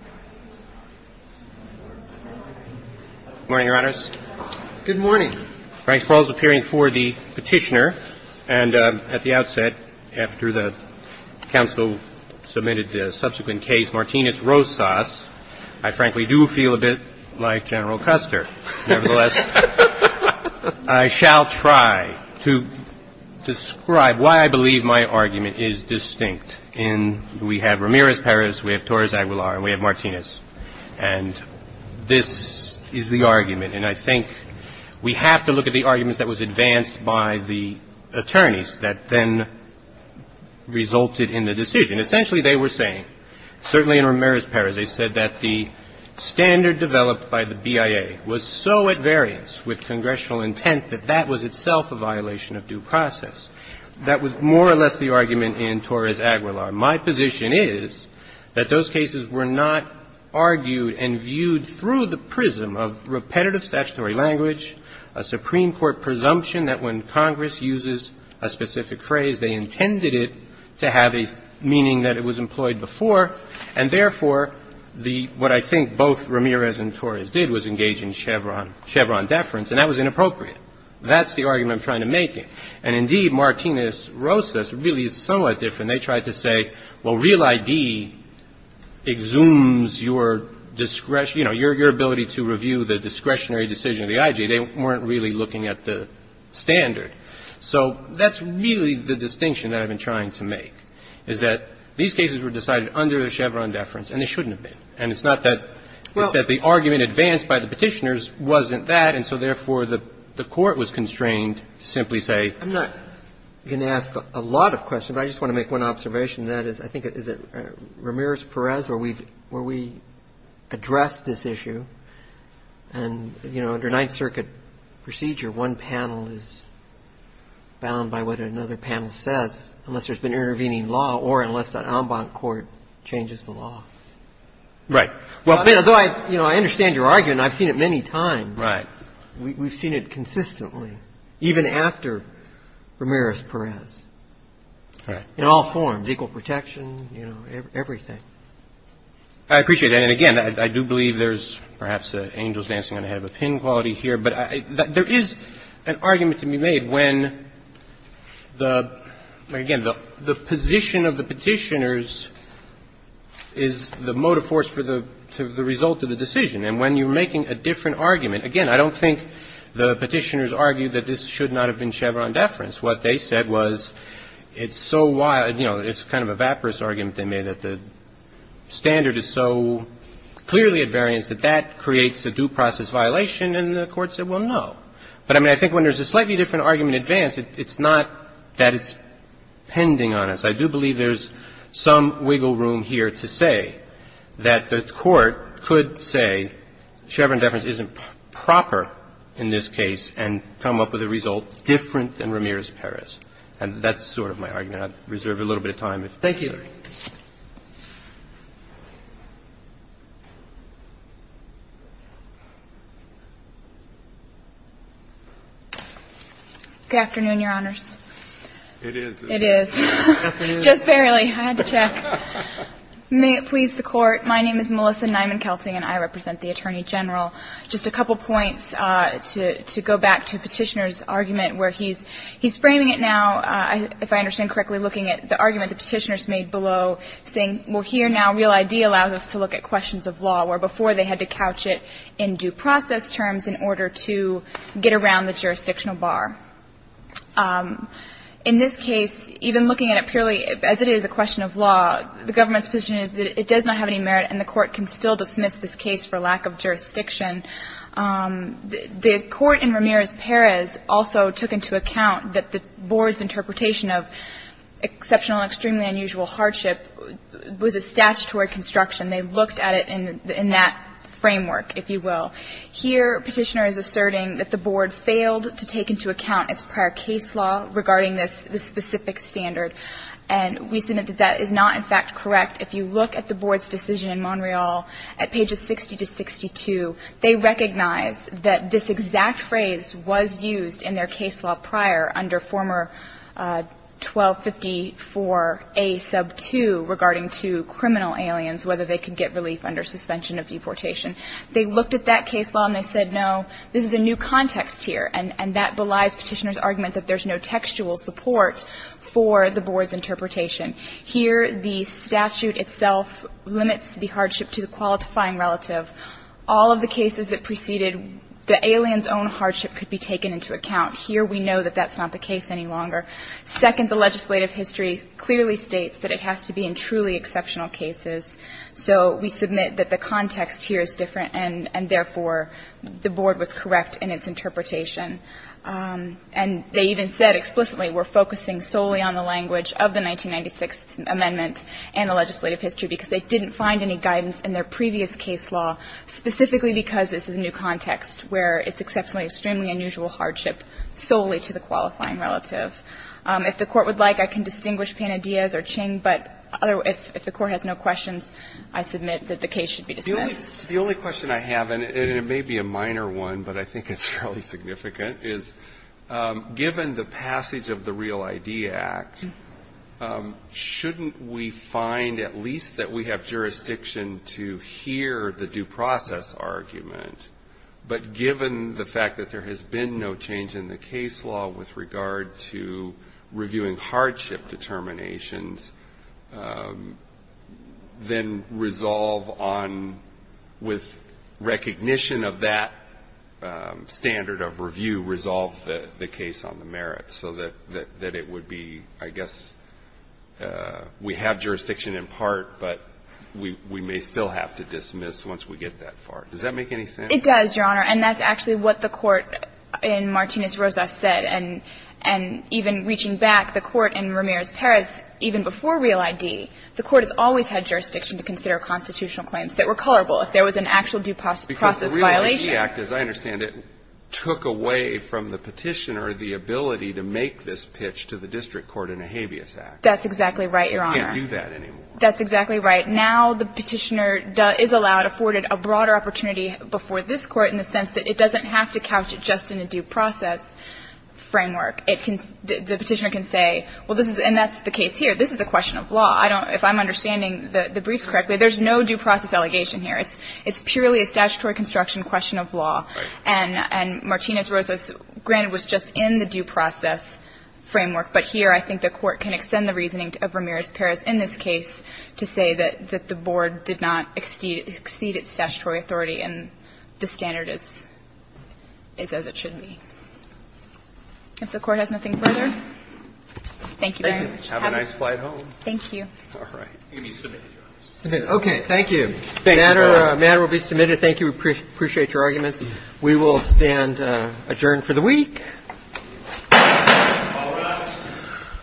Good morning, Your Honors. Good morning. Frank Spalding is appearing for the petitioner, and at the outset, after the counsel submitted the subsequent case, Martinez-Rosas, I frankly do feel a bit like General Custer. Nevertheless, I shall try to describe why I believe my argument is distinct. And we have Ramirez-Perez, we have Torres-Aguilar, and we have Martinez. And this is the argument, and I think we have to look at the arguments that was advanced by the attorneys that then resulted in the decision. Essentially, they were saying, certainly in Ramirez-Perez, they said that the standard developed by the BIA was so at variance with congressional intent that that was itself a violation of due process. That was more or less the argument in Torres-Aguilar. My position is that those cases were not argued and viewed through the prism of repetitive statutory language, a Supreme Court presumption that when Congress uses a specific phrase, they intended it to have a meaning that it was employed before, and therefore, the what I think both Ramirez and Torres did was engage in Chevron deference, and that was inappropriate. That's the argument I'm trying to make. And indeed, Martinez-Rosas really is somewhat different. They tried to say, well, real ID exhumes your discretion, you know, your ability to review the discretionary decision of the IG. They weren't really looking at the standard. So that's really the distinction that I've been trying to make, is that these cases were decided under the Chevron deference, and they shouldn't have been. And it's not that the argument advanced by the Petitioners wasn't that, and so therefore, the Court was constrained to simply say. I'm not going to ask a lot of questions, but I just want to make one observation and that is, I think, is it Ramirez-Torres where we addressed this issue, and, you know, under Ninth Circuit procedure, one panel is bound by what another panel says unless there's been intervening law or unless that en banc court changes the law. Right. Although I, you know, I understand your argument, and I've seen it many times. Right. We've seen it consistently, even after Ramirez-Torres. Right. In all forms, equal protection, you know, everything. I appreciate that. And again, I do believe there's perhaps an angel's dancing on the head of a pin quality here, but there is an argument to be made when the, again, the position of the Petitioners is the motive force for the result of the decision, and when you're making a different argument, again, I don't think the Petitioners argued that this should not have been Chevron deference. What they said was it's so wild, you know, it's kind of a vaporous argument they made, that the standard is so clearly at variance that that creates a due process violation, and the Court said, well, no. But, I mean, I think when there's a slightly different argument advanced, it's not that it's pending on us. I do believe there's some wiggle room here to say that the Court could say Chevron deference isn't proper in this case and come up with a result different than Ramirez-Perez. And that's sort of my argument. I'd reserve a little bit of time. Thank you. Good afternoon, Your Honors. It is. It is. Just barely. I had to check. May it please the Court. My name is Melissa Nyman-Kelting, and I represent the Attorney General. Just a couple points to go back to Petitioner's argument where he's framing it now, if I understand correctly, looking at the argument the Petitioners made below, saying, well, here now real ID allows us to look at questions of law, where before they had to couch it in due process terms in order to get around the jurisdictional bar. In this case, even looking at it purely as it is a question of law, the government's decision is that it does not have any merit and the Court can still dismiss this case for lack of jurisdiction. The Court in Ramirez-Perez also took into account that the Board's interpretation of exceptional and extremely unusual hardship was a statutory construction. They looked at it in that framework, if you will. Here, Petitioner is asserting that the Board failed to take into account its prior case law regarding this specific standard. And we submit that that is not, in fact, correct. If you look at the Board's decision in Montreal at pages 60 to 62, they recognize that this exact phrase was used in their case law prior under former 1254a sub 2 regarding to criminal aliens, whether they could get relief under suspension of deportation. They looked at that case law and they said, no, this is a new context here. And that belies Petitioner's argument that there's no textual support for the Board's interpretation. Here, the statute itself limits the hardship to the qualifying relative. All of the cases that preceded the aliens' own hardship could be taken into account. Here, we know that that's not the case any longer. Second, the legislative history clearly states that it has to be in truly exceptional cases. So we submit that the context here is different and, therefore, the Board was correct in its interpretation. And they even said explicitly, we're focusing solely on the language of the 1996th amendment and the legislative history, because they didn't find any guidance in their previous case law, specifically because this is a new context where it's exceptionally, extremely unusual hardship solely to the qualifying relative. If the Court would like, I can distinguish Pena-Diaz or Ching, but if the Court has no questions, I submit that the case should be dismissed. The only question I have, and it may be a minor one, but I think it's fairly significant, is given the passage of the Real ID Act, shouldn't we find at least that we have jurisdiction to hear the due process argument, but given the fact that there has been no change in the case law with regard to reviewing hardship determinations, then resolve on, with recognition of that standard of review, resolve the case on the merits so that it would be, I guess, we have jurisdiction in part, but we may still have to dismiss once we get that far. Does that make any sense? It does, Your Honor. And that's actually what the Court in Martinez-Roza said. And even reaching back, the Court in Ramirez-Perez, even before Real ID, the Court has always had jurisdiction to consider constitutional claims that were colorable if there was an actual due process violation. Because the Real ID Act, as I understand it, took away from the Petitioner the ability to make this pitch to the district court in a habeas act. That's exactly right, Your Honor. You can't do that anymore. That's exactly right. Now the Petitioner is allowed, afforded a broader opportunity before this Court in the sense that it doesn't have to couch it just in a due process framework. It can, the Petitioner can say, well, this is, and that's the case here. This is a question of law. I don't, if I'm understanding the briefs correctly, there's no due process allegation here. It's purely a statutory construction question of law. Right. And Martinez-Roza, granted, was just in the due process framework. But here I think the Court can extend the reasoning of Ramirez-Perez in this case to say that the board did not exceed its statutory authority and the standard is, is as it should be. If the Court has nothing further, thank you very much. Thank you. Have a nice flight home. Thank you. All right. You can be submitted, Your Honor. Okay. Thank you. Thank you, Your Honor. The matter will be submitted. Thank you. We appreciate your arguments. We will stand adjourned for the week. All rise.